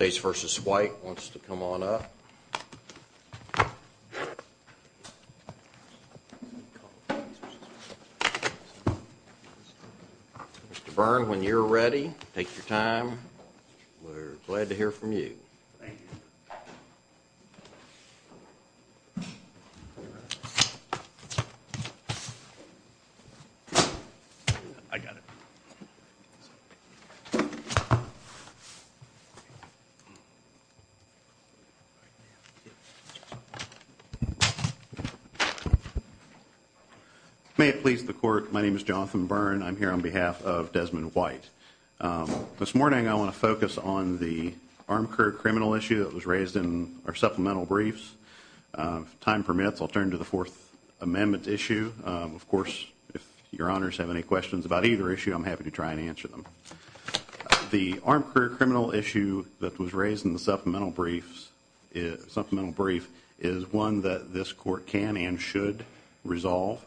wants to come on up. Mr. Byrne, when you're ready, take your time. We're glad to hear from you. Thank you. May it please the court, my name is Jonathan Byrne. I'm here on behalf of Desmond White. This morning I want to focus on the armed career criminal issue that was raised in our supplemental briefs. If time permits, I'll turn to the Fourth Amendment issue. Of course, if your honors have any questions about either issue, I'm happy to try and answer them. The armed career criminal issue that was raised in the supplemental briefs is one that this court can and should resolve.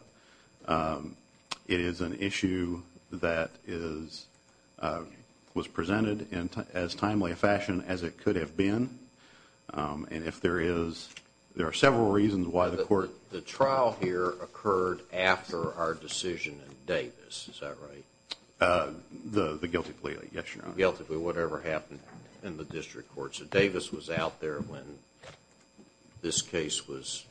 It is an issue that was presented in as timely a fashion as it could have been. And if there is, there are several reasons why the court The trial here occurred after our decision in Davis, is that right? The guilty plea, yes, your honor. Guilty plea, whatever happened in the district court. So Davis was out there when this case was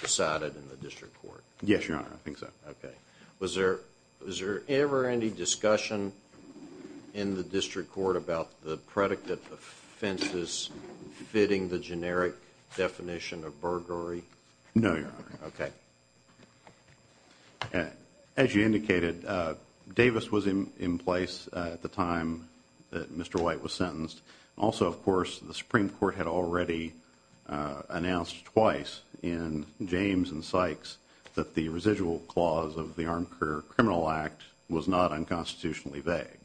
decided in the district court. Yes, your honor, I think so. Okay. Was there ever any discussion in the district court about the predicate offenses fitting the generic definition of burglary? No, your honor. Okay. As you indicated, Davis was in place at the time that Mr. White was sentenced. Also, of course, the Supreme Court had already announced twice in James and Sykes that the residual clause of the Armed Career Criminal Act was not unconstitutionally vague.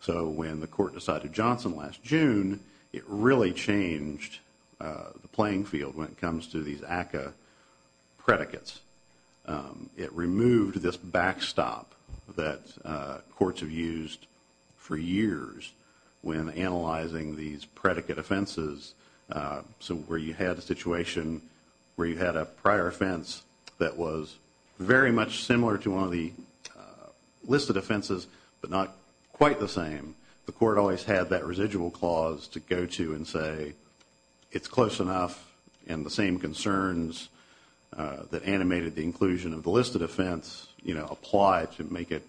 So when the court decided Johnson last June, it really changed the playing field when it comes to these ACCA predicates. It removed this backstop that courts have used for years when analyzing these predicate offenses. So where you had a situation where you had a prior offense that was very much similar to one of the listed offenses, but not quite the same, the court always had that residual clause to go to and say, it's close enough and the same concerns that animated the inclusion of the listed offense apply to make it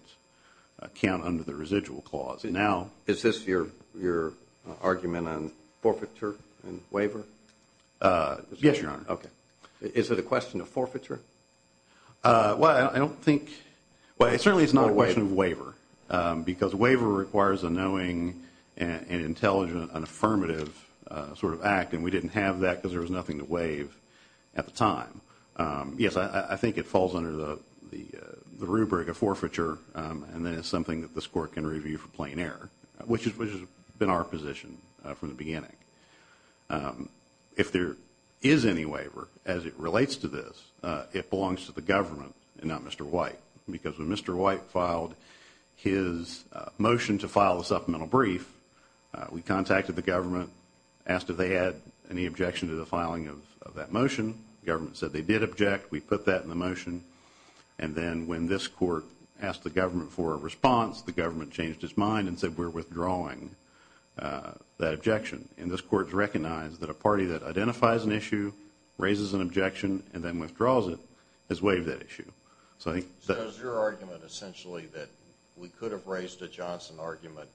count under the residual clause. Is this your argument on forfeiture and waiver? Yes, your honor. Okay. Is it a question of forfeiture? Well, I don't think. Well, it certainly is not a question of waiver. Because a waiver requires a knowing and intelligent and affirmative sort of act, and we didn't have that because there was nothing to waive at the time. Yes, I think it falls under the rubric of forfeiture, and then it's something that this court can review for plain error, which has been our position from the beginning. If there is any waiver as it relates to this, it belongs to the government and not Mr. White, because when Mr. White filed his motion to file a supplemental brief, we contacted the government, asked if they had any objection to the filing of that motion. The government said they did object. We put that in the motion. And then when this court asked the government for a response, the government changed its mind and said we're withdrawing that objection. And this court has recognized that a party that identifies an issue, raises an objection, and then withdraws it has waived that issue. So is your argument essentially that we could have raised a Johnson argument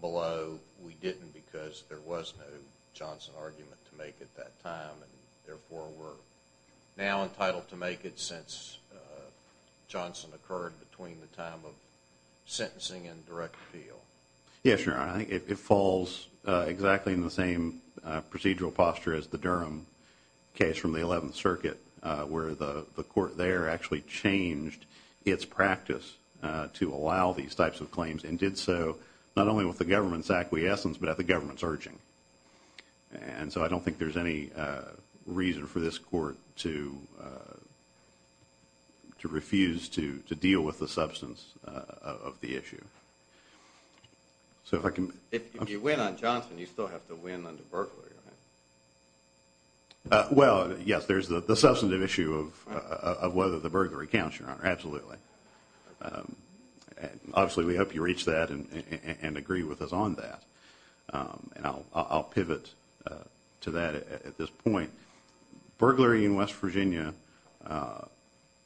below we didn't because there was no Johnson argument to make at that time, and therefore we're now entitled to make it since Johnson occurred between the time of sentencing and direct appeal? Yes, Your Honor. I think it falls exactly in the same procedural posture as the Durham case from the 11th Circuit, where the court there actually changed its practice to allow these types of claims and did so not only with the government's acquiescence but at the government's urging. And so I don't think there's any reason for this court to refuse to deal with the substance of the issue. If you win on Johnson, you still have to win under Berkley, right? Well, yes, there's the substantive issue of whether the burglary counts, Your Honor, absolutely. Obviously we hope you reach that and agree with us on that. And I'll pivot to that at this point. Burglary in West Virginia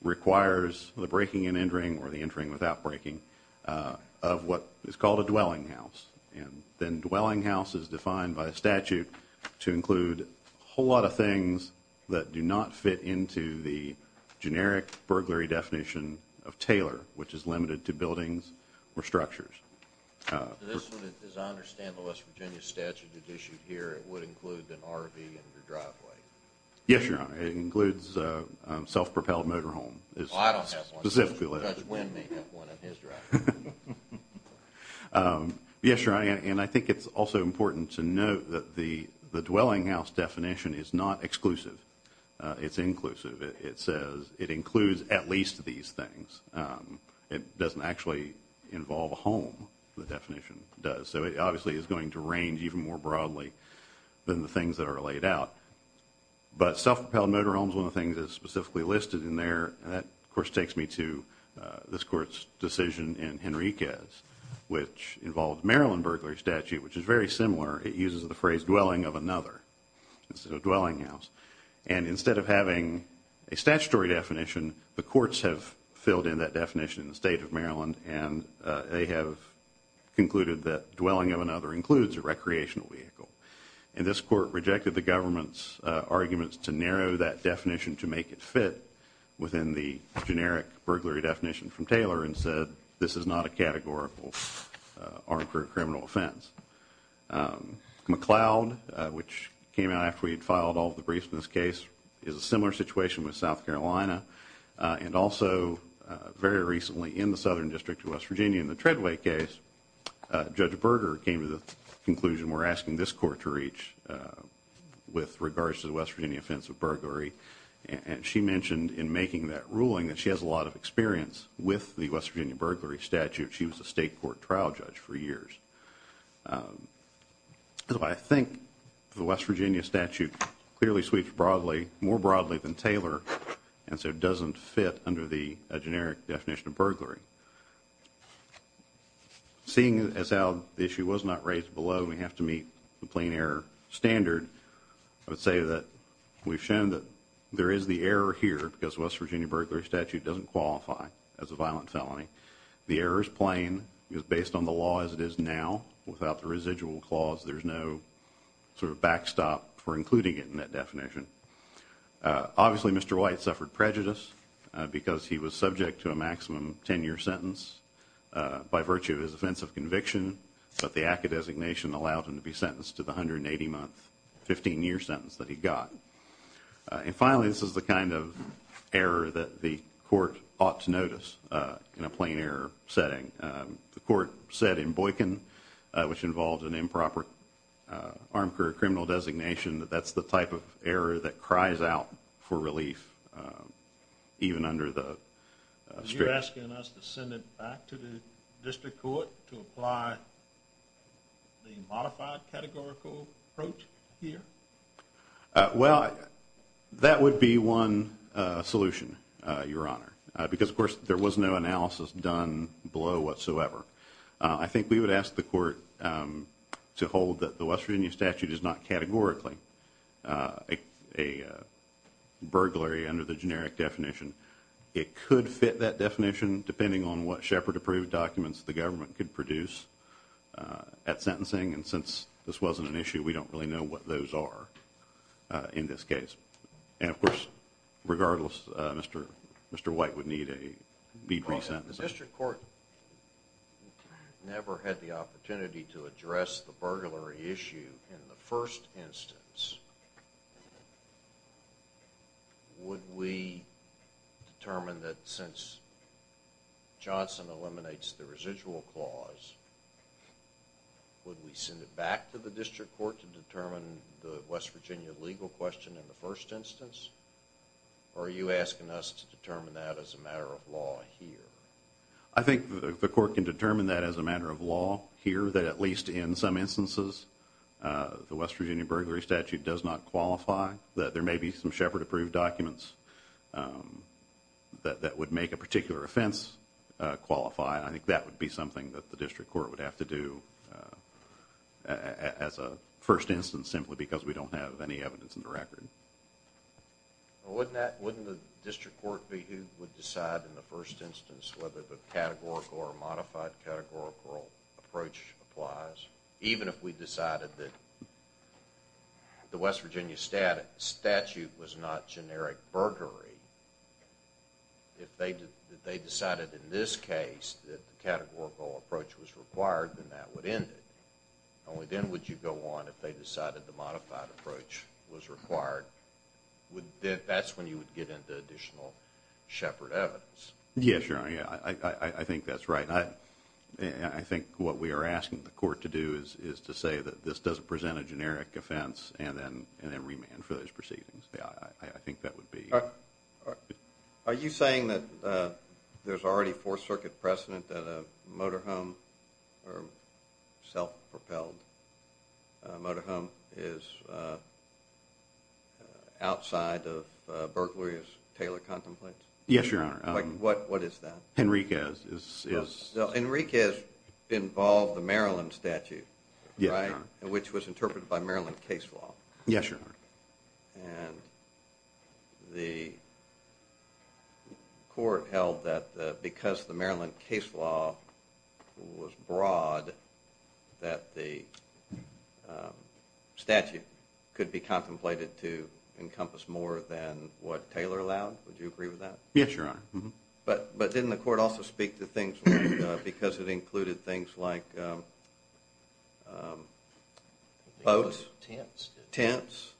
requires the breaking and entering or the entering without breaking of what is called a dwelling house. And then dwelling house is defined by a statute to include a whole lot of things that do not fit into the generic burglary definition of tailor, which is limited to buildings or structures. As I understand the West Virginia statute that's issued here, it would include an RV in your driveway. Yes, Your Honor. It includes a self-propelled motorhome. Well, I don't have one. Judge Wynn may have one in his driveway. Yes, Your Honor, and I think it's also important to note that the dwelling house definition is not exclusive. It's inclusive. It says it includes at least these things. It doesn't actually involve a home, the definition does. So it obviously is going to range even more broadly than the things that are laid out. But self-propelled motorhome is one of the things that is specifically listed in there. And that, of course, takes me to this Court's decision in Henriquez, which involves Maryland burglary statute, which is very similar. It uses the phrase dwelling of another instead of dwelling house. And instead of having a statutory definition, the courts have filled in that definition in the State of Maryland, and they have concluded that dwelling of another includes a recreational vehicle. And this court rejected the government's arguments to narrow that definition to make it fit within the generic burglary definition from Taylor and said this is not a categorical armed criminal offense. McLeod, which came out after we had filed all of the briefs in this case, is a similar situation with South Carolina and also very recently in the Southern District of West Virginia in the Treadway case. Judge Berger came to the conclusion we're asking this court to reach with regards to the West Virginia offense of burglary, and she mentioned in making that ruling that she has a lot of experience with the West Virginia burglary statute. She was a state court trial judge for years. That's why I think the West Virginia statute clearly sweeps more broadly than Taylor and so doesn't fit under the generic definition of burglary. Seeing as how the issue was not raised below, we have to meet the plain error standard, I would say that we've shown that there is the error here because the West Virginia burglary statute doesn't qualify as a violent felony. The error is plain. It was based on the law as it is now. Without the residual clause, there's no sort of backstop for including it in that definition. Obviously, Mr. White suffered prejudice because he was subject to a maximum 10-year sentence by virtue of his offense of conviction, but the ACCA designation allowed him to be sentenced to the 180-month, 15-year sentence that he got. And finally, this is the kind of error that the court ought to notice in a plain error setting. The court said in Boykin, which involved an improper arm career criminal designation, that that's the type of error that cries out for relief even under the statute. You're asking us to send it back to the district court to apply the modified categorical approach here? Well, that would be one solution, Your Honor, because, of course, there was no analysis done below whatsoever. I think we would ask the court to hold that the West Virginia statute is not categorically a burglary under the generic definition. It could fit that definition depending on what Shepard-approved documents the government could produce at sentencing, and since this wasn't an issue, we don't really know what those are in this case. And, of course, regardless, Mr. White would need re-sentencing. The district court never had the opportunity to address the burglary issue in the first instance. Would we determine that since Johnson eliminates the residual clause, would we send it back to the district court to determine the West Virginia legal question in the first instance, or are you asking us to determine that as a matter of law here? I think the court can determine that as a matter of law here, that at least in some instances the West Virginia burglary statute does not qualify, that there may be some Shepard-approved documents that would make a particular offense qualify. I think that would be something that the district court would have to do as a first instance simply because we don't have any evidence in the record. Well, wouldn't the district court be who would decide in the first instance whether the categorical or modified categorical approach applies? Even if we decided that the West Virginia statute was not generic burglary, if they decided in this case that the categorical approach was required, then that would end it. Only then would you go on if they decided the modified approach was required. That's when you would get into additional Shepard evidence. Yeah, sure. I think that's right. I think what we are asking the court to do is to say that this doesn't present a generic offense and then remand for those proceedings. I think that would be... Are you saying that there's already Fourth Circuit precedent that a motorhome or self-propelled motorhome is outside of burglary as Taylor contemplates? Yes, Your Honor. What is that? Enriquez is... Enriquez involved the Maryland statute, right, which was interpreted by Maryland case law. Yes, Your Honor. And the court held that because the Maryland case law was broad that the statute could be contemplated to encompass more than what Taylor allowed. Would you agree with that? Yes, Your Honor. But didn't the court also speak to things like... because it included things like boats, tents,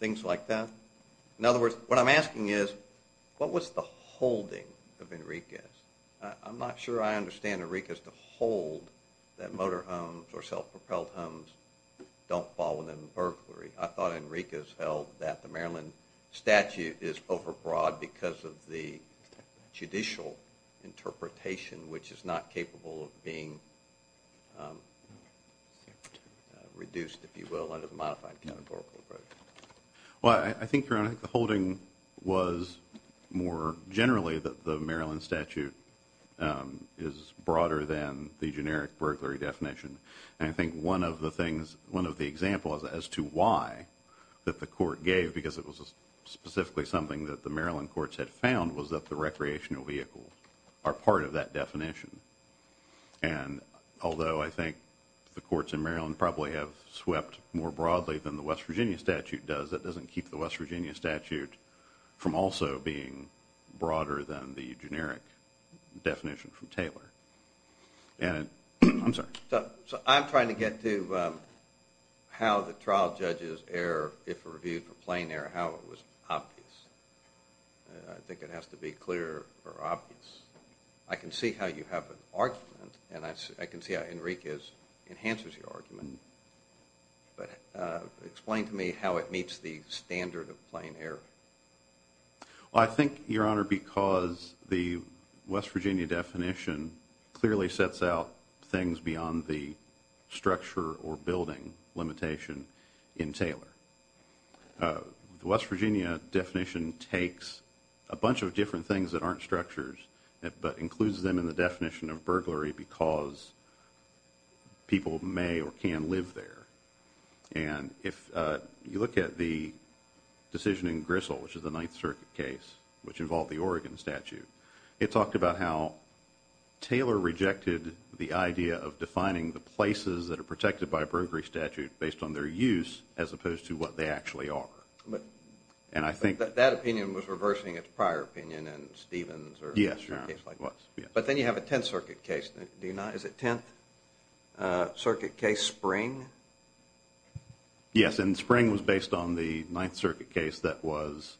things like that? In other words, what I'm asking is what was the holding of Enriquez? I'm not sure I understand Enriquez to hold that motorhomes or self-propelled homes don't fall within burglary. I thought Enriquez held that the Maryland statute is overbroad because of the judicial interpretation, which is not capable of being reduced, if you will, under the modified categorical approach. Well, I think, Your Honor, the holding was more generally that the Maryland statute is broader than the generic burglary definition. And I think one of the examples as to why that the court gave, because it was specifically something that the Maryland courts had found, was that the recreational vehicles are part of that definition. And although I think the courts in Maryland probably have swept more broadly than the West Virginia statute does, that doesn't keep the West Virginia statute from also being broader than the generic definition from Taylor. I'm sorry. So I'm trying to get to how the trial judge's error, if reviewed for plain error, how it was obvious. I think it has to be clear or obvious. I can see how you have an argument, and I can see how Enriquez enhances your argument. But explain to me how it meets the standard of plain error. Well, I think, Your Honor, because the West Virginia definition clearly sets out things beyond the structure or building limitation in Taylor. The West Virginia definition takes a bunch of different things that aren't structures but includes them in the definition of burglary because people may or can live there. And if you look at the decision in Grissel, which is the Ninth Circuit case, which involved the Oregon statute, it talked about how Taylor rejected the idea of defining the places that are protected by a burglary statute based on their use as opposed to what they actually are. That opinion was reversing its prior opinion in Stevens. Yes, Your Honor, it was. But then you have a Tenth Circuit case, do you not? Is it Tenth Circuit case Spring? Yes, and Spring was based on the Ninth Circuit case that was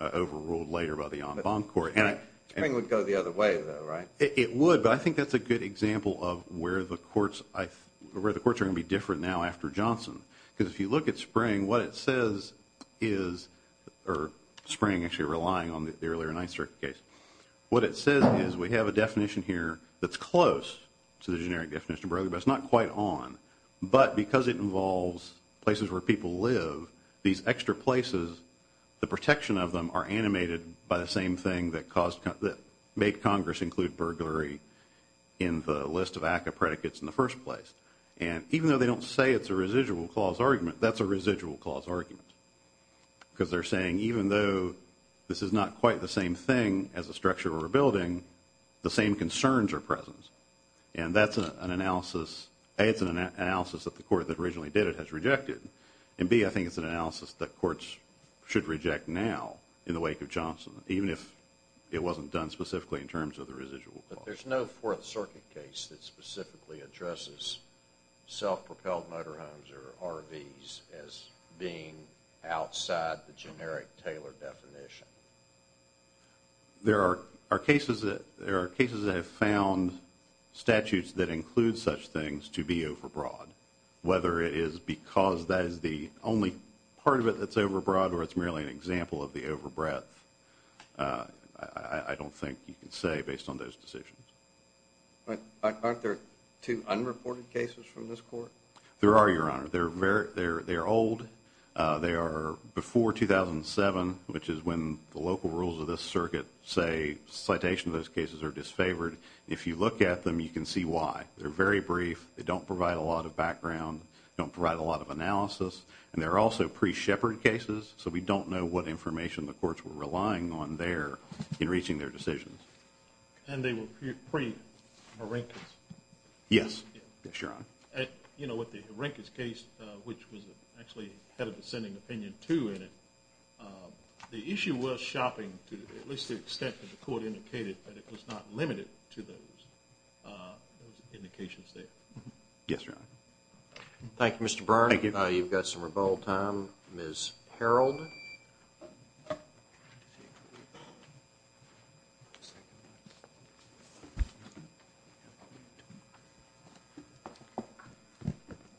overruled later by the En Banc Court. Spring would go the other way, though, right? It would, but I think that's a good example of where the courts are going to be different now after Johnson. Because if you look at Spring, what it says is, or Spring actually relying on the earlier Ninth Circuit case, what it says is we have a definition here that's close to the generic definition of burglary, but it's not quite on. But because it involves places where people live, these extra places, the protection of them are animated by the same thing that made Congress include burglary in the list of ACCA predicates in the first place. And even though they don't say it's a residual clause argument, that's a residual clause argument. Because they're saying even though this is not quite the same thing as a structural rebuilding, the same concerns are present. And that's an analysis, A, it's an analysis that the court that originally did it has rejected, and B, I think it's an analysis that courts should reject now in the wake of Johnson, even if it wasn't done specifically in terms of the residual clause. There's no Fourth Circuit case that specifically addresses self-propelled motorhomes or RVs as being outside the generic Taylor definition. There are cases that have found statutes that include such things to be overbroad, whether it is because that is the only part of it that's overbroad or it's merely an example of the overbreadth. I don't think you can say based on those decisions. Aren't there two unreported cases from this court? There are, Your Honor. They're old. They are before 2007, which is when the local rules of this circuit say citation of those cases are disfavored. If you look at them, you can see why. They're very brief. They don't provide a lot of analysis. And they're also pre-Shepard cases, so we don't know what information the courts were relying on there in reaching their decisions. And they were pre-Harenkis? Yes. Yes, Your Honor. You know, with the Harenkis case, which actually had a dissenting opinion too in it, the issue was shopping to at least the extent that the court indicated that it was not limited to those indications there. Yes, Your Honor. Thank you, Mr. Byrne. Thank you. You've got some rebuttal time. Ms. Harreld?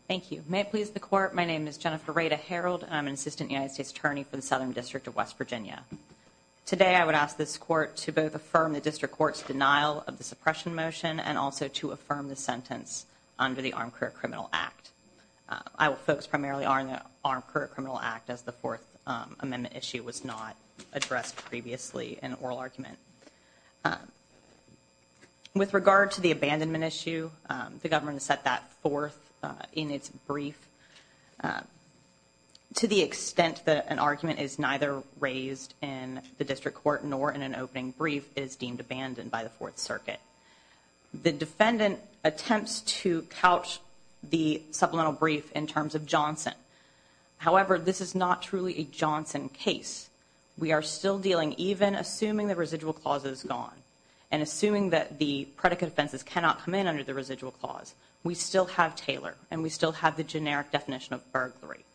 Thank you. May it please the Court, my name is Jennifer Rada Harreld, and I'm an Assistant United States Attorney for the Southern District of West Virginia. Today I would ask this Court to both affirm the District Court's denial of the suppression motion and also to affirm the sentence under the Armed Career Criminal Act. Our folks primarily are in the Armed Career Criminal Act, as the Fourth Amendment issue was not addressed previously in an oral argument. With regard to the abandonment issue, the government has set that forth in its brief. To the extent that an argument is neither raised in the District Court nor in an opening brief is deemed abandoned by the Fourth Circuit. The defendant attempts to couch the supplemental brief in terms of Johnson. However, this is not truly a Johnson case. We are still dealing, even assuming the residual clause is gone, and assuming that the predicate offenses cannot come in under the residual clause, we still have Taylor and we still have the generic definition of burglary.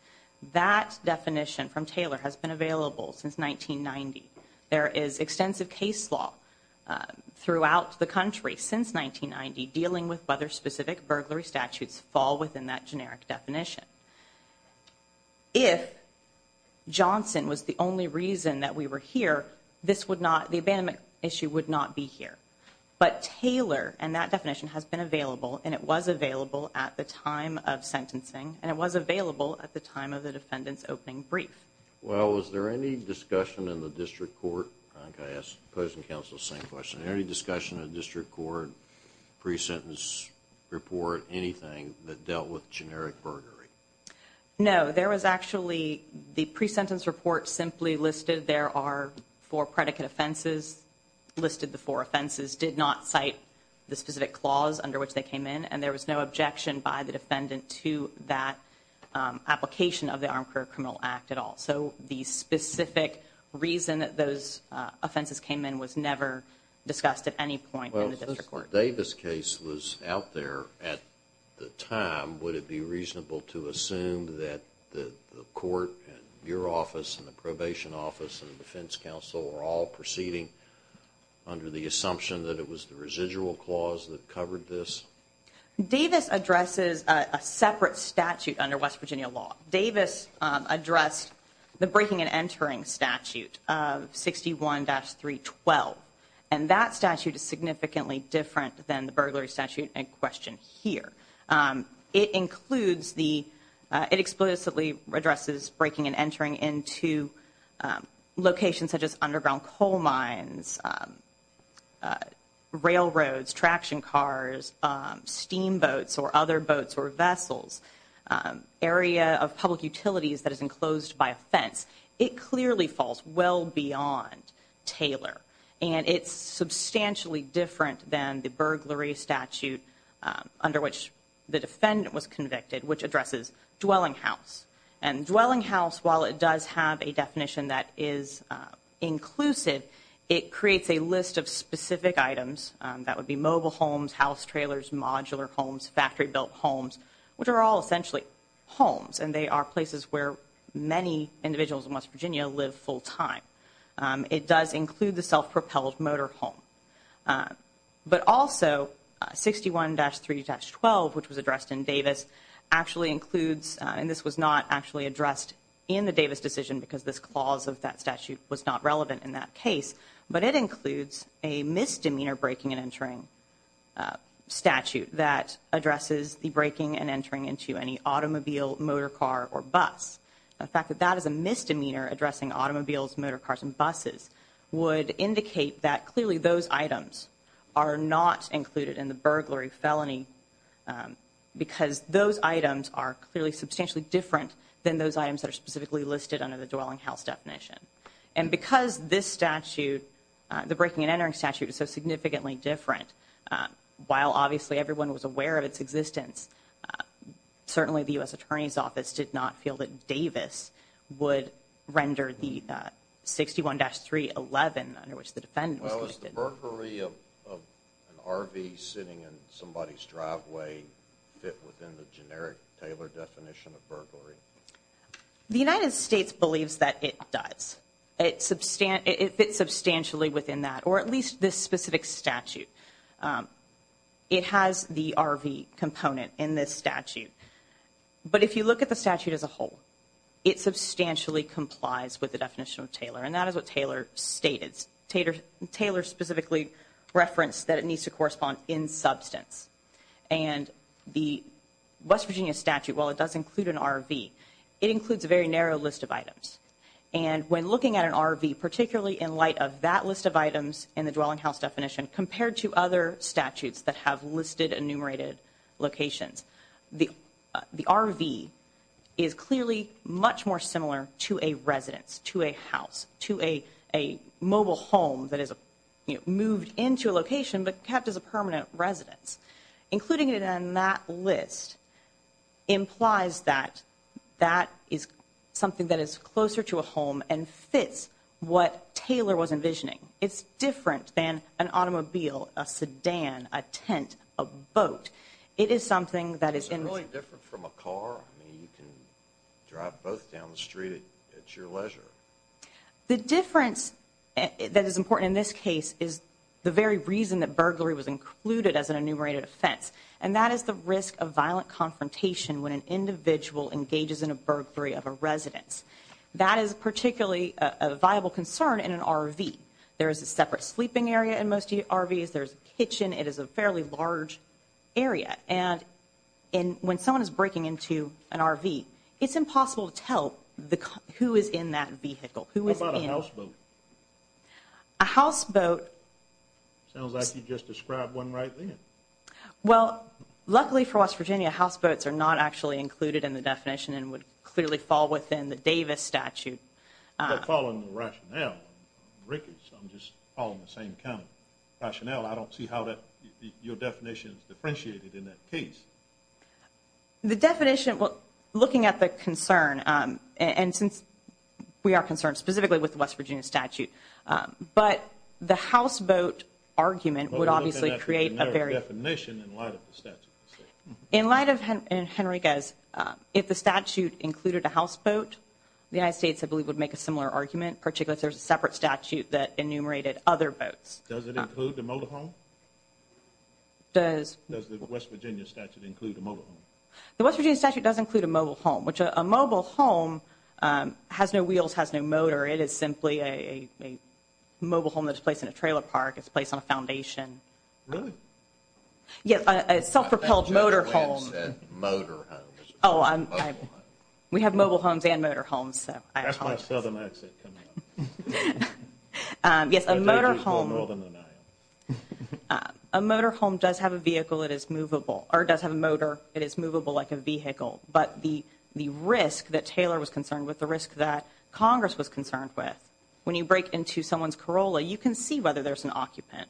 That definition from Taylor has been available since 1990. There is extensive case law throughout the country since 1990 dealing with whether specific burglary statutes fall within that generic definition. If Johnson was the only reason that we were here, the abandonment issue would not be here. But Taylor and that definition has been available, and it was available at the time of sentencing, and it was available at the time of the defendant's opening brief. Well, was there any discussion in the District Court? I think I asked the opposing counsel the same question. Any discussion in the District Court, pre-sentence report, anything that dealt with generic burglary? No. There was actually the pre-sentence report simply listed there are four predicate offenses, listed the four offenses, did not cite the specific clause under which they came in, and there was no objection by the defendant to that application of the Armed Career Criminal Act at all. So the specific reason that those offenses came in was never discussed at any point in the District Court. Well, since the Davis case was out there at the time, would it be reasonable to assume that the court and your office and the probation office and the defense counsel were all proceeding under the assumption that it was the residual clause that covered this? Davis addresses a separate statute under West Virginia law. Davis addressed the breaking and entering statute of 61-312, and that statute is significantly different than the burglary statute in question here. It includes the, it explicitly addresses breaking and entering into locations such as underground coal mines, railroads, traction cars, steamboats or other boats or vessels, area of public utilities that is enclosed by a fence. It clearly falls well beyond Taylor, and it's substantially different than the burglary statute under which the defendant was convicted, which addresses dwelling house. And dwelling house, while it does have a definition that is inclusive, it creates a list of specific items. That would be mobile homes, house trailers, modular homes, factory built homes, which are all essentially homes, and they are places where many individuals in West Virginia live full time. It does include the self-propelled motor home. But also 61-312, which was addressed in Davis, actually includes, and this was not actually addressed in the Davis decision because this clause of that statute was not relevant in that case, but it includes a misdemeanor breaking and entering statute that addresses the breaking and entering into any automobile, motor car or bus. The fact that that is a misdemeanor addressing automobiles, motor cars, and buses would indicate that clearly those items are not included in the burglary felony because those items are clearly substantially different than those items that are specifically listed under the dwelling house definition. And because this statute, the breaking and entering statute, is so significantly different, while obviously everyone was aware of its existence, certainly the U.S. Attorney's Office did not feel that Davis would render the 61-311 under which the defendant was listed. Well, is the burglary of an RV sitting in somebody's driveway fit within the generic Taylor definition of burglary? The United States believes that it does. It fits substantially within that, or at least this specific statute. It has the RV component in this statute. But if you look at the statute as a whole, it substantially complies with the definition of Taylor, and that is what Taylor stated. Taylor specifically referenced that it needs to correspond in substance. And the West Virginia statute, while it does include an RV, it includes a very narrow list of items. And when looking at an RV, particularly in light of that list of items in the dwelling house definition, compared to other statutes that have listed enumerated locations, the RV is clearly much more similar to a residence, to a house, to a mobile home that is moved into a location but kept as a permanent residence. Including it in that list implies that that is something that is closer to a home and fits what Taylor was envisioning. It's different than an automobile, a sedan, a tent, a boat. It is something that is in... Is it really different from a car? I mean, you can drive both down the street at your leisure. The difference that is important in this case is the very reason that burglary was included as an enumerated offense, and that is the risk of violent confrontation when an individual engages in a burglary of a residence. That is particularly a viable concern in an RV. There is a separate sleeping area in most RVs. There's a kitchen. It is a fairly large area. And when someone is breaking into an RV, it's impossible to tell who is in that vehicle, who is in... What about a houseboat? A houseboat... Sounds like you just described one right then. Well, luckily for West Virginia, houseboats are not actually included in the definition and would clearly fall within the Davis statute. I'm not following the rationale. I'm just following the same kind of rationale. I don't see how your definition is differentiated in that case. The definition, looking at the concern, and since we are concerned specifically with the West Virginia statute, but the houseboat argument would obviously create a very... But we're looking at the generic definition in light of the statute. In light of Henriquez, if the statute included a houseboat, the United States, I believe, would make a similar argument, Does it include the mobile home? Does the West Virginia statute include a mobile home? The West Virginia statute does include a mobile home, which a mobile home has no wheels, has no motor. It is simply a mobile home that is placed in a trailer park. It's placed on a foundation. Yes, a self-propelled motor home. I thought you said motor homes. Oh, I'm... We have mobile homes and motor homes, so I apologize. That's my southern accent coming out. Yes, a motor home... A motor home does have a vehicle that is movable, or does have a motor that is movable like a vehicle. But the risk that Taylor was concerned with, the risk that Congress was concerned with, when you break into someone's Corolla, you can see whether there's an occupant.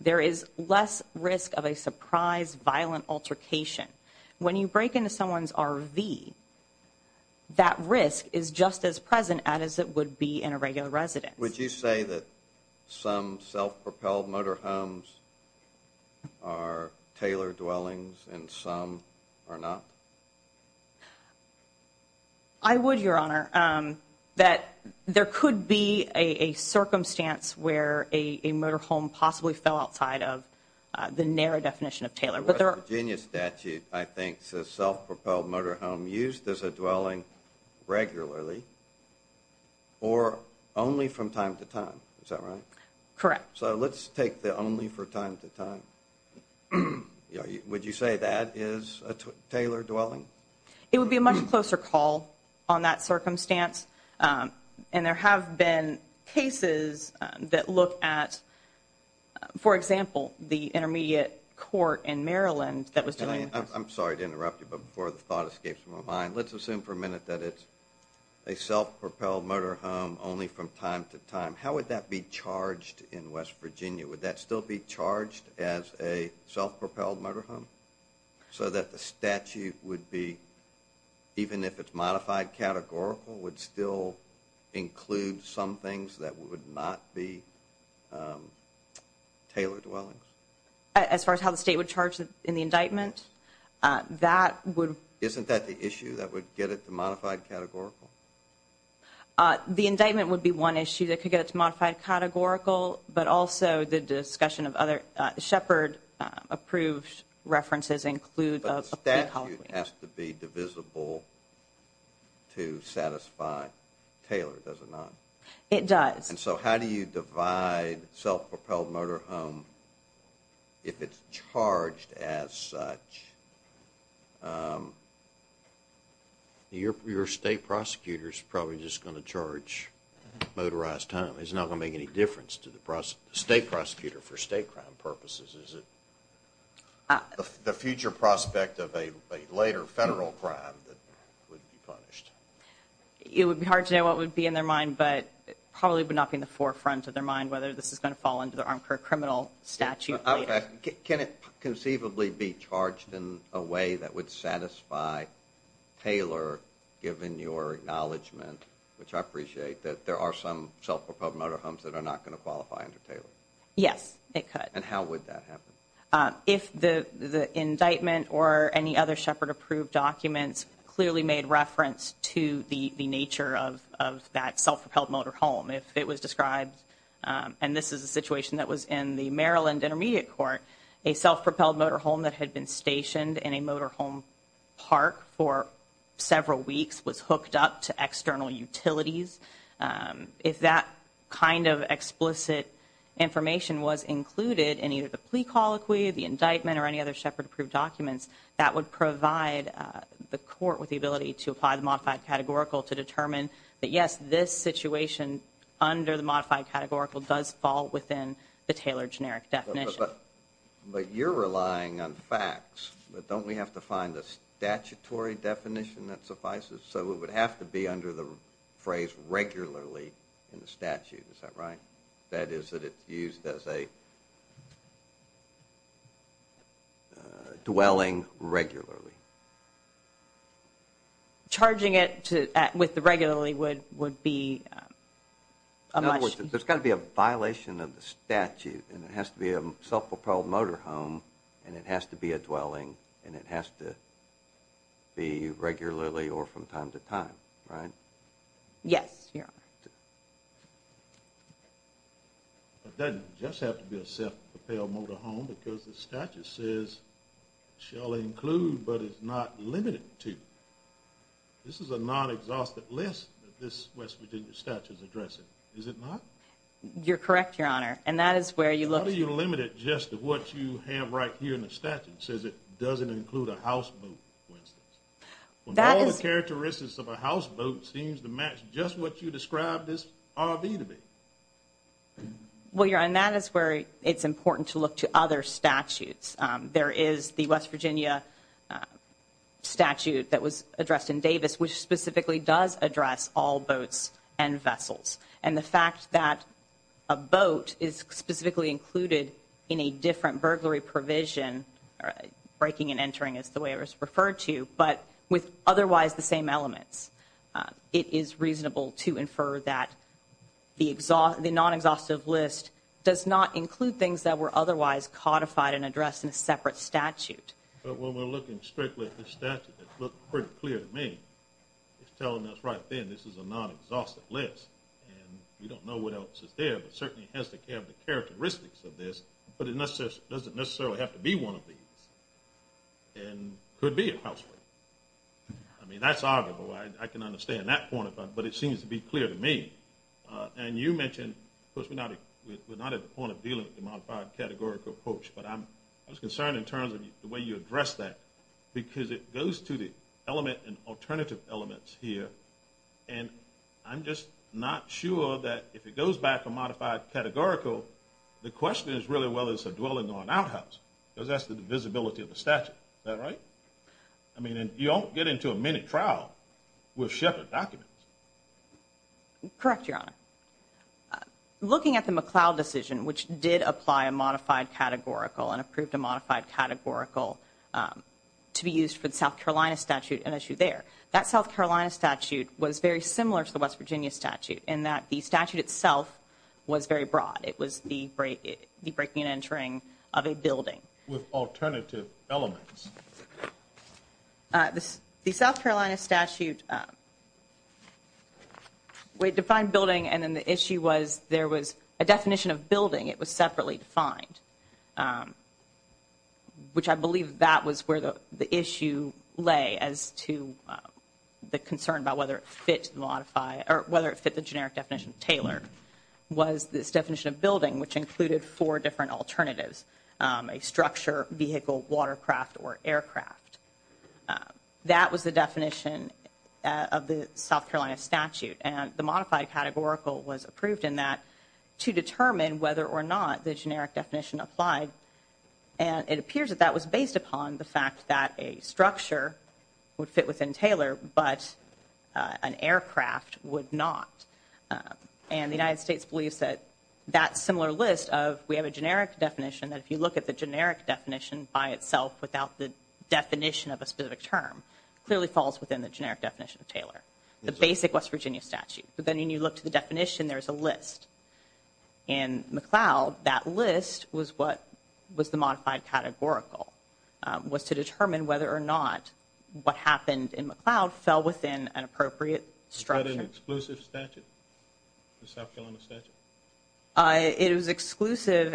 There is less risk of a surprise violent altercation. When you break into someone's RV, that risk is just as present as it would be in a regular residence. Would you say that some self-propelled motor homes are Taylor dwellings and some are not? I would, Your Honor. That there could be a circumstance where a motor home possibly fell outside of the NARA definition of Taylor. The West Virginia statute, I think, says self-propelled motor home used as a dwelling regularly or only from time to time. Is that right? Correct. So let's take the only from time to time. Would you say that is a Taylor dwelling? It would be a much closer call on that circumstance. And there have been cases that look at, for example, the intermediate court in Maryland that was dealing with this. I'm sorry to interrupt you, but before the thought escapes my mind, let's assume for a minute that it's a self-propelled motor home only from time to time. How would that be charged in West Virginia? Would that still be charged as a self-propelled motor home? So that the statute would be, even if it's modified categorical, would still include some things that would not be Taylor dwellings? As far as how the state would charge it in the indictment? Isn't that the issue that would get it to modified categorical? The indictment would be one issue that could get it to modified categorical, but also the discussion of other Shepard-approved references include a complete home. But the statute has to be divisible to satisfy Taylor, does it not? It does. And so how do you divide self-propelled motor home if it's charged as such? Your state prosecutor is probably just going to charge motorized home. It's not going to make any difference to the state prosecutor for state crime purposes, is it? The future prospect of a later federal crime that would be punished. It would be hard to know what would be in their mind, but it probably would not be in the forefront of their mind whether this is going to fall under the armed criminal statute later. Can it conceivably be charged in a way that would satisfy Taylor, given your acknowledgement, which I appreciate that there are some self-propelled motor homes that are not going to qualify under Taylor? Yes, it could. And how would that happen? If the indictment or any other Shepard-approved documents clearly made reference to the nature of that self-propelled motor home, if it was described, and this is a situation that was in the Maryland Intermediate Court, a self-propelled motor home that had been stationed in a motor home park for several weeks was hooked up to external utilities. If that kind of explicit information was included in either the plea colloquy, the indictment, or any other Shepard-approved documents, that would provide the court with the ability to apply the modified categorical to determine that, yes, this situation under the modified categorical does fall within the Taylor generic definition. But you're relying on facts, but don't we have to find a statutory definition that suffices so it would have to be under the phrase regularly in the statute, is that right? That is, that it's used as a dwelling regularly. Charging it with the regularly would be a must. In other words, there's got to be a violation of the statute, and it has to be a self-propelled motor home, and it has to be a dwelling, and it has to be regularly or from time to time, right? Yes, Your Honor. It doesn't just have to be a self-propelled motor home because the statute says, shall include, but is not limited to. This is a non-exhaustive list that this West Virginia statute is addressing, is it not? You're correct, Your Honor, and that is where you look to. How do you limit it just to what you have right here in the statute? It says it doesn't include a houseboat, for instance. All the characteristics of a houseboat seems to match just what you described this RV to be. Well, Your Honor, and that is where it's important to look to other statutes. There is the West Virginia statute that was addressed in Davis, which specifically does address all boats and vessels, and the fact that a boat is specifically included in a different burglary provision, breaking and entering is the way it was referred to, but with otherwise the same elements, it is reasonable to infer that the non-exhaustive list does not include things that were otherwise codified and addressed in a separate statute. But when we're looking strictly at the statute, it's looking pretty clear to me. It's telling us right then this is a non-exhaustive list, and we don't know what else is there, but it certainly has to have the characteristics of this, but it doesn't necessarily have to be one of these and could be a houseboat. I mean, that's arguable. I can understand that point of view, but it seems to be clear to me. And you mentioned, of course, we're not at the point of dealing with the modified categorical approach, but I was concerned in terms of the way you addressed that, because it goes to the element and alternative elements here, and I'm just not sure that if it goes back to modified categorical, the question is really whether it's a dwelling or an outhouse, because that's the divisibility of the statute. Is that right? I mean, you don't get into a minute trial with Shepard documents. Correct, Your Honor. Looking at the McLeod decision, which did apply a modified categorical and approved a modified categorical to be used for the South Carolina statute, an issue there, that South Carolina statute was very similar to the West Virginia statute in that the statute itself was very broad. It was the breaking and entering of a building. With alternative elements. The South Carolina statute defined building, and then the issue was there was a definition of building. It was separately defined, which I believe that was where the issue lay as to the concern about whether it fit the generic definition tailored, was this definition of building, which included four different alternatives, a structure, vehicle, watercraft, or aircraft. That was the definition of the South Carolina statute, and the modified categorical was approved in that to determine whether or not the generic definition applied, and it appears that that was based upon the fact that a structure would fit within Taylor, but an aircraft would not, and the United States believes that that similar list of we have a generic definition that if you look at the generic definition by itself without the definition of a specific term, clearly falls within the generic definition of Taylor, the basic West Virginia statute. In McLeod, that list was what was the modified categorical, was to determine whether or not what happened in McLeod fell within an appropriate structure. Was that an exclusive statute, the South Carolina statute? It was exclusive,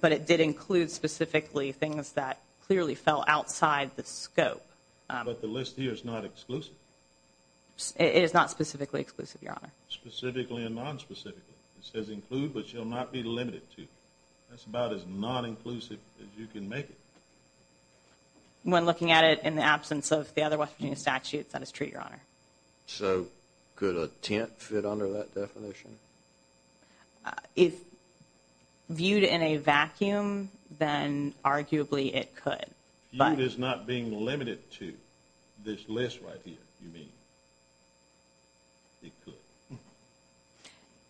but it did include specifically things that clearly fell outside the scope. But the list here is not exclusive. It is not specifically exclusive, Your Honor. Specifically and nonspecifically. It says include, but you'll not be limited to. That's about as non-inclusive as you can make it. When looking at it in the absence of the other West Virginia statutes, that is true, Your Honor. So could a tent fit under that definition? If viewed in a vacuum, then arguably it could. Viewed as not being limited to this list right here, you mean. It could.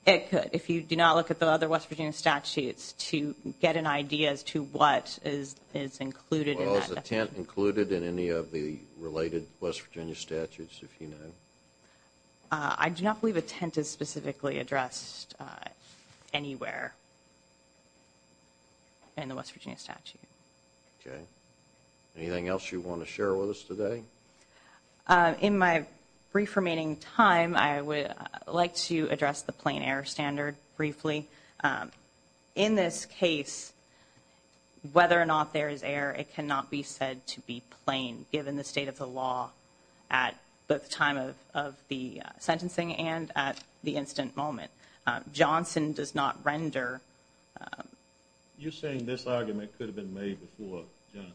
It could. If you do not look at the other West Virginia statutes to get an idea as to what is included in that. Well, is a tent included in any of the related West Virginia statutes, if you know? I do not believe a tent is specifically addressed anywhere in the West Virginia statute. Okay. Anything else you want to share with us today? In my brief remaining time, I would like to address the plain air standard briefly. In this case, whether or not there is air, it cannot be said to be plain, given the state of the law at the time of the sentencing and at the instant moment. Johnson does not render. You're saying this argument could have been made before Johnson?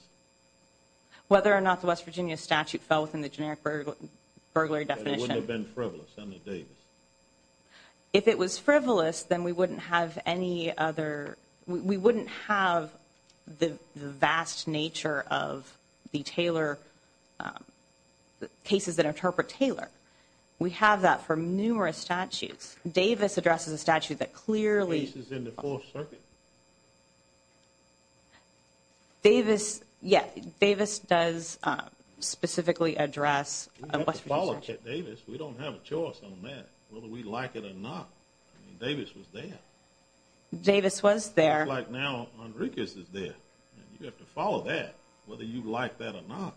Whether or not the West Virginia statute fell within the generic burglary definition. It wouldn't have been frivolous under Davis. If it was frivolous, then we wouldn't have any other. We wouldn't have the vast nature of the Taylor cases that interpret Taylor. We have that for numerous statutes. Davis addresses a statute that clearly. The case is in the Fourth Circuit. Davis. Yeah. Davis does specifically address. Follow Davis. We don't have a choice on that. Whether we like it or not. Davis was there. Davis was there. Like now, Enriquez is there. You have to follow that. Whether you like that or not.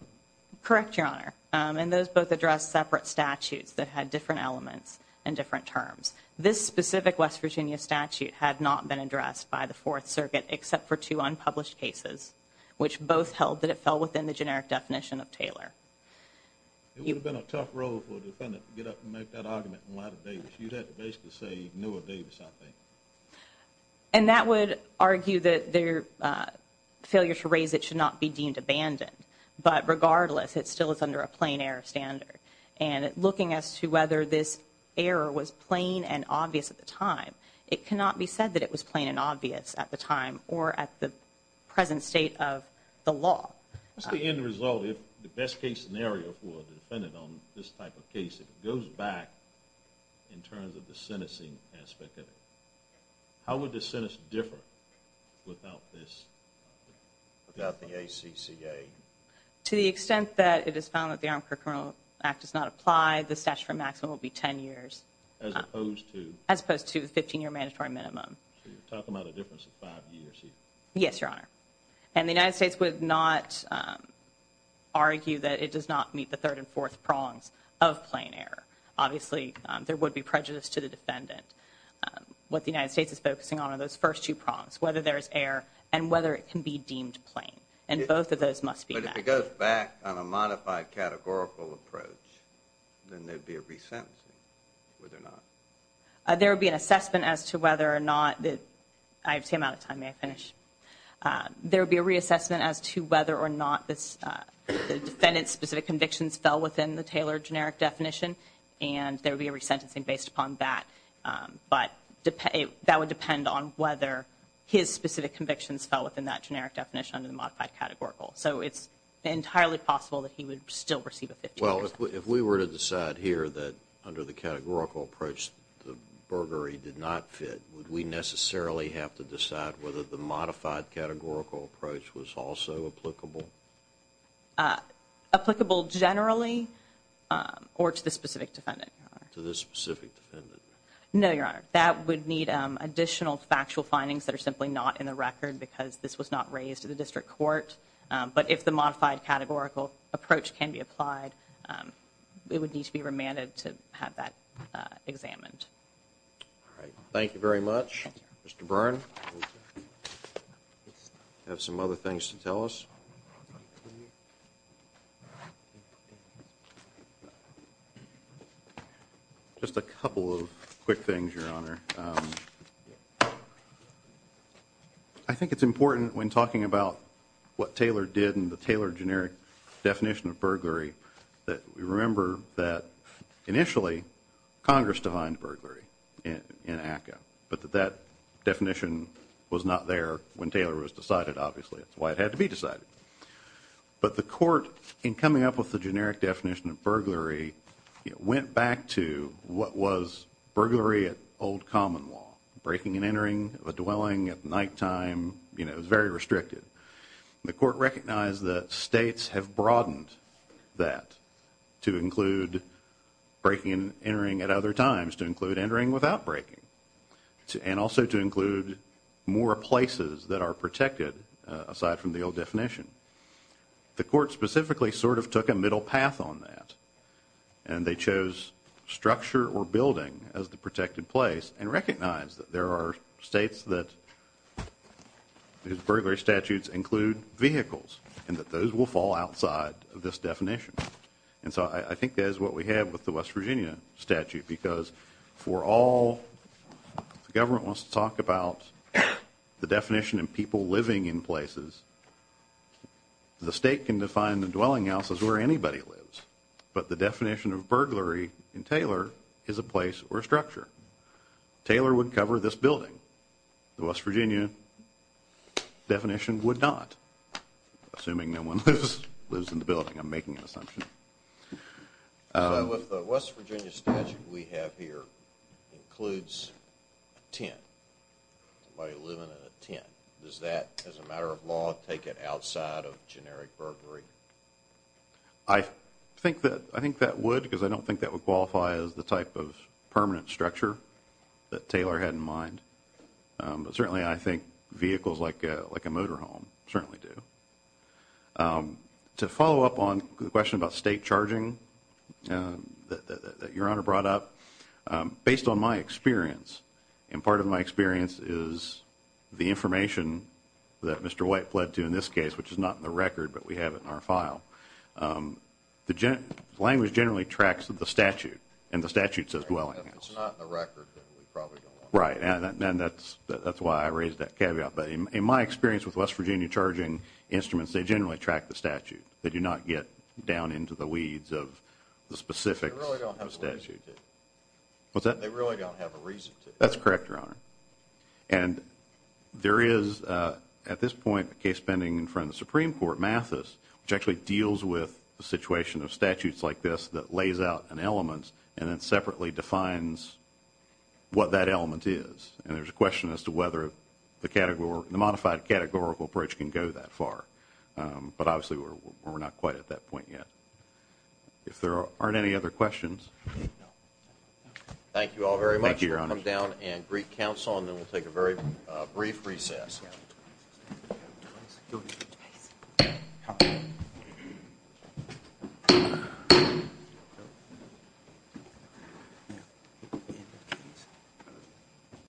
Correct. Your honor. And those both address separate statutes that had different elements and different terms. This specific West Virginia statute had not been addressed by the Fourth Circuit, except for two unpublished cases, which both held that it fell within the generic definition of Taylor. It would have been a tough role for a defendant to get up and make that argument in light of Davis. You'd have to basically say, Noah Davis, I think. And that would argue that their failure to raise it should not be deemed abandoned. But regardless, it still is under a plain air standard. And looking as to whether this error was plain and obvious at the time, it cannot be said that it was plain and obvious at the time or at the present state of the law. What's the end result? If the best case scenario for the defendant on this type of case, it goes back in terms of the sentencing aspect of it. How would the sentence differ without this? Without the ACCA. To the extent that it is found that the arm for criminal act does not apply. The stash for maximum will be 10 years as opposed to as opposed to 15 year mandatory minimum. So you're talking about a difference of five years here. Yes, Your Honor. And the United States would not argue that it does not meet the third and fourth prongs of plain air. Obviously there would be prejudice to the defendant. What the United States is focusing on are those first two prompts, whether there's air and whether it can be deemed plain. And both of those must be back. But if it goes back on a modified categorical approach, then there'd be a resentencing, would there not? There would be an assessment as to whether or not, I've come out of time, may I finish? There would be a reassessment as to whether or not the defendant's specific convictions fell within the Taylor generic definition. And there would be a resentencing based upon that. But that would depend on whether his specific convictions fell within that modified categorical. So it's entirely possible that he would still receive a 15 year sentence. Well, if we were to decide here that under the categorical approach, the burglary did not fit, would we necessarily have to decide whether the modified categorical approach was also applicable? Applicable generally or to the specific defendant? To the specific defendant. No, Your Honor. That would need additional factual findings that are simply not in the court. But if the modified categorical approach can be applied, it would need to be remanded to have that examined. All right. Thank you very much. Mr. Byrne. I have some other things to tell us. Just a couple of quick things, Your Honor. I think it's important when talking about what Taylor did in the Taylor generic definition of burglary that we remember that initially Congress defined burglary in ACCA. But that definition was not there when Taylor was decided, obviously. That's why it had to be decided. But the court, in coming up with the generic definition of burglary, went back to what was burglary at old common law, breaking and entering a dwelling at nighttime. It was very restricted. The court recognized that states have broadened that to include breaking and entering at other times, to include entering without breaking, and also to include more places that are protected, aside from the old definition. The court specifically sort of took a middle path on that, and they chose structure or building as the protected place and recognized that there are states that these burglary statutes include vehicles and that those will fall outside of this definition. And so I think that is what we have with the West Virginia statute, because for all the government wants to talk about the definition of people living in places, the state can define the dwelling house as where anybody lives. But the definition of burglary in Taylor is a place or a structure. Taylor would cover this building. The West Virginia definition would not, assuming no one lives in the building. I'm making an assumption. With the West Virginia statute we have here, it includes a tent, somebody living in a tent. Does that, as a matter of law, take it outside of generic burglary? I think that would, because I don't think that would qualify as the type of permanent structure that Taylor had in mind. But certainly I think vehicles like a motor home certainly do. To follow up on the question about state charging that Your Honor brought up, based on my experience, and part of my experience is the information that Mr. White pled to in this case, which is not in the record, but we have it in our file. Language generally tracks the statute, and the statute says dwelling house. If it's not in the record, then we probably don't want it. Right, and that's why I raised that caveat. But in my experience with West Virginia charging instruments, they generally track the statute. They do not get down into the weeds of the specifics of the statute. They really don't have a reason to. What's that? They really don't have a reason to. That's correct, Your Honor. And there is, at this point, a case pending in front of the Supreme Court, Mathis, which actually deals with the situation of statutes like this that lays out an element and then separately defines what that element is. And there's a question as to whether the modified categorical approach can go that far. But obviously, we're not quite at that point yet. If there aren't any other questions. Thank you all very much. Thank you, Your Honor. We'll come down and greet counsel, and then we'll take a very brief recess.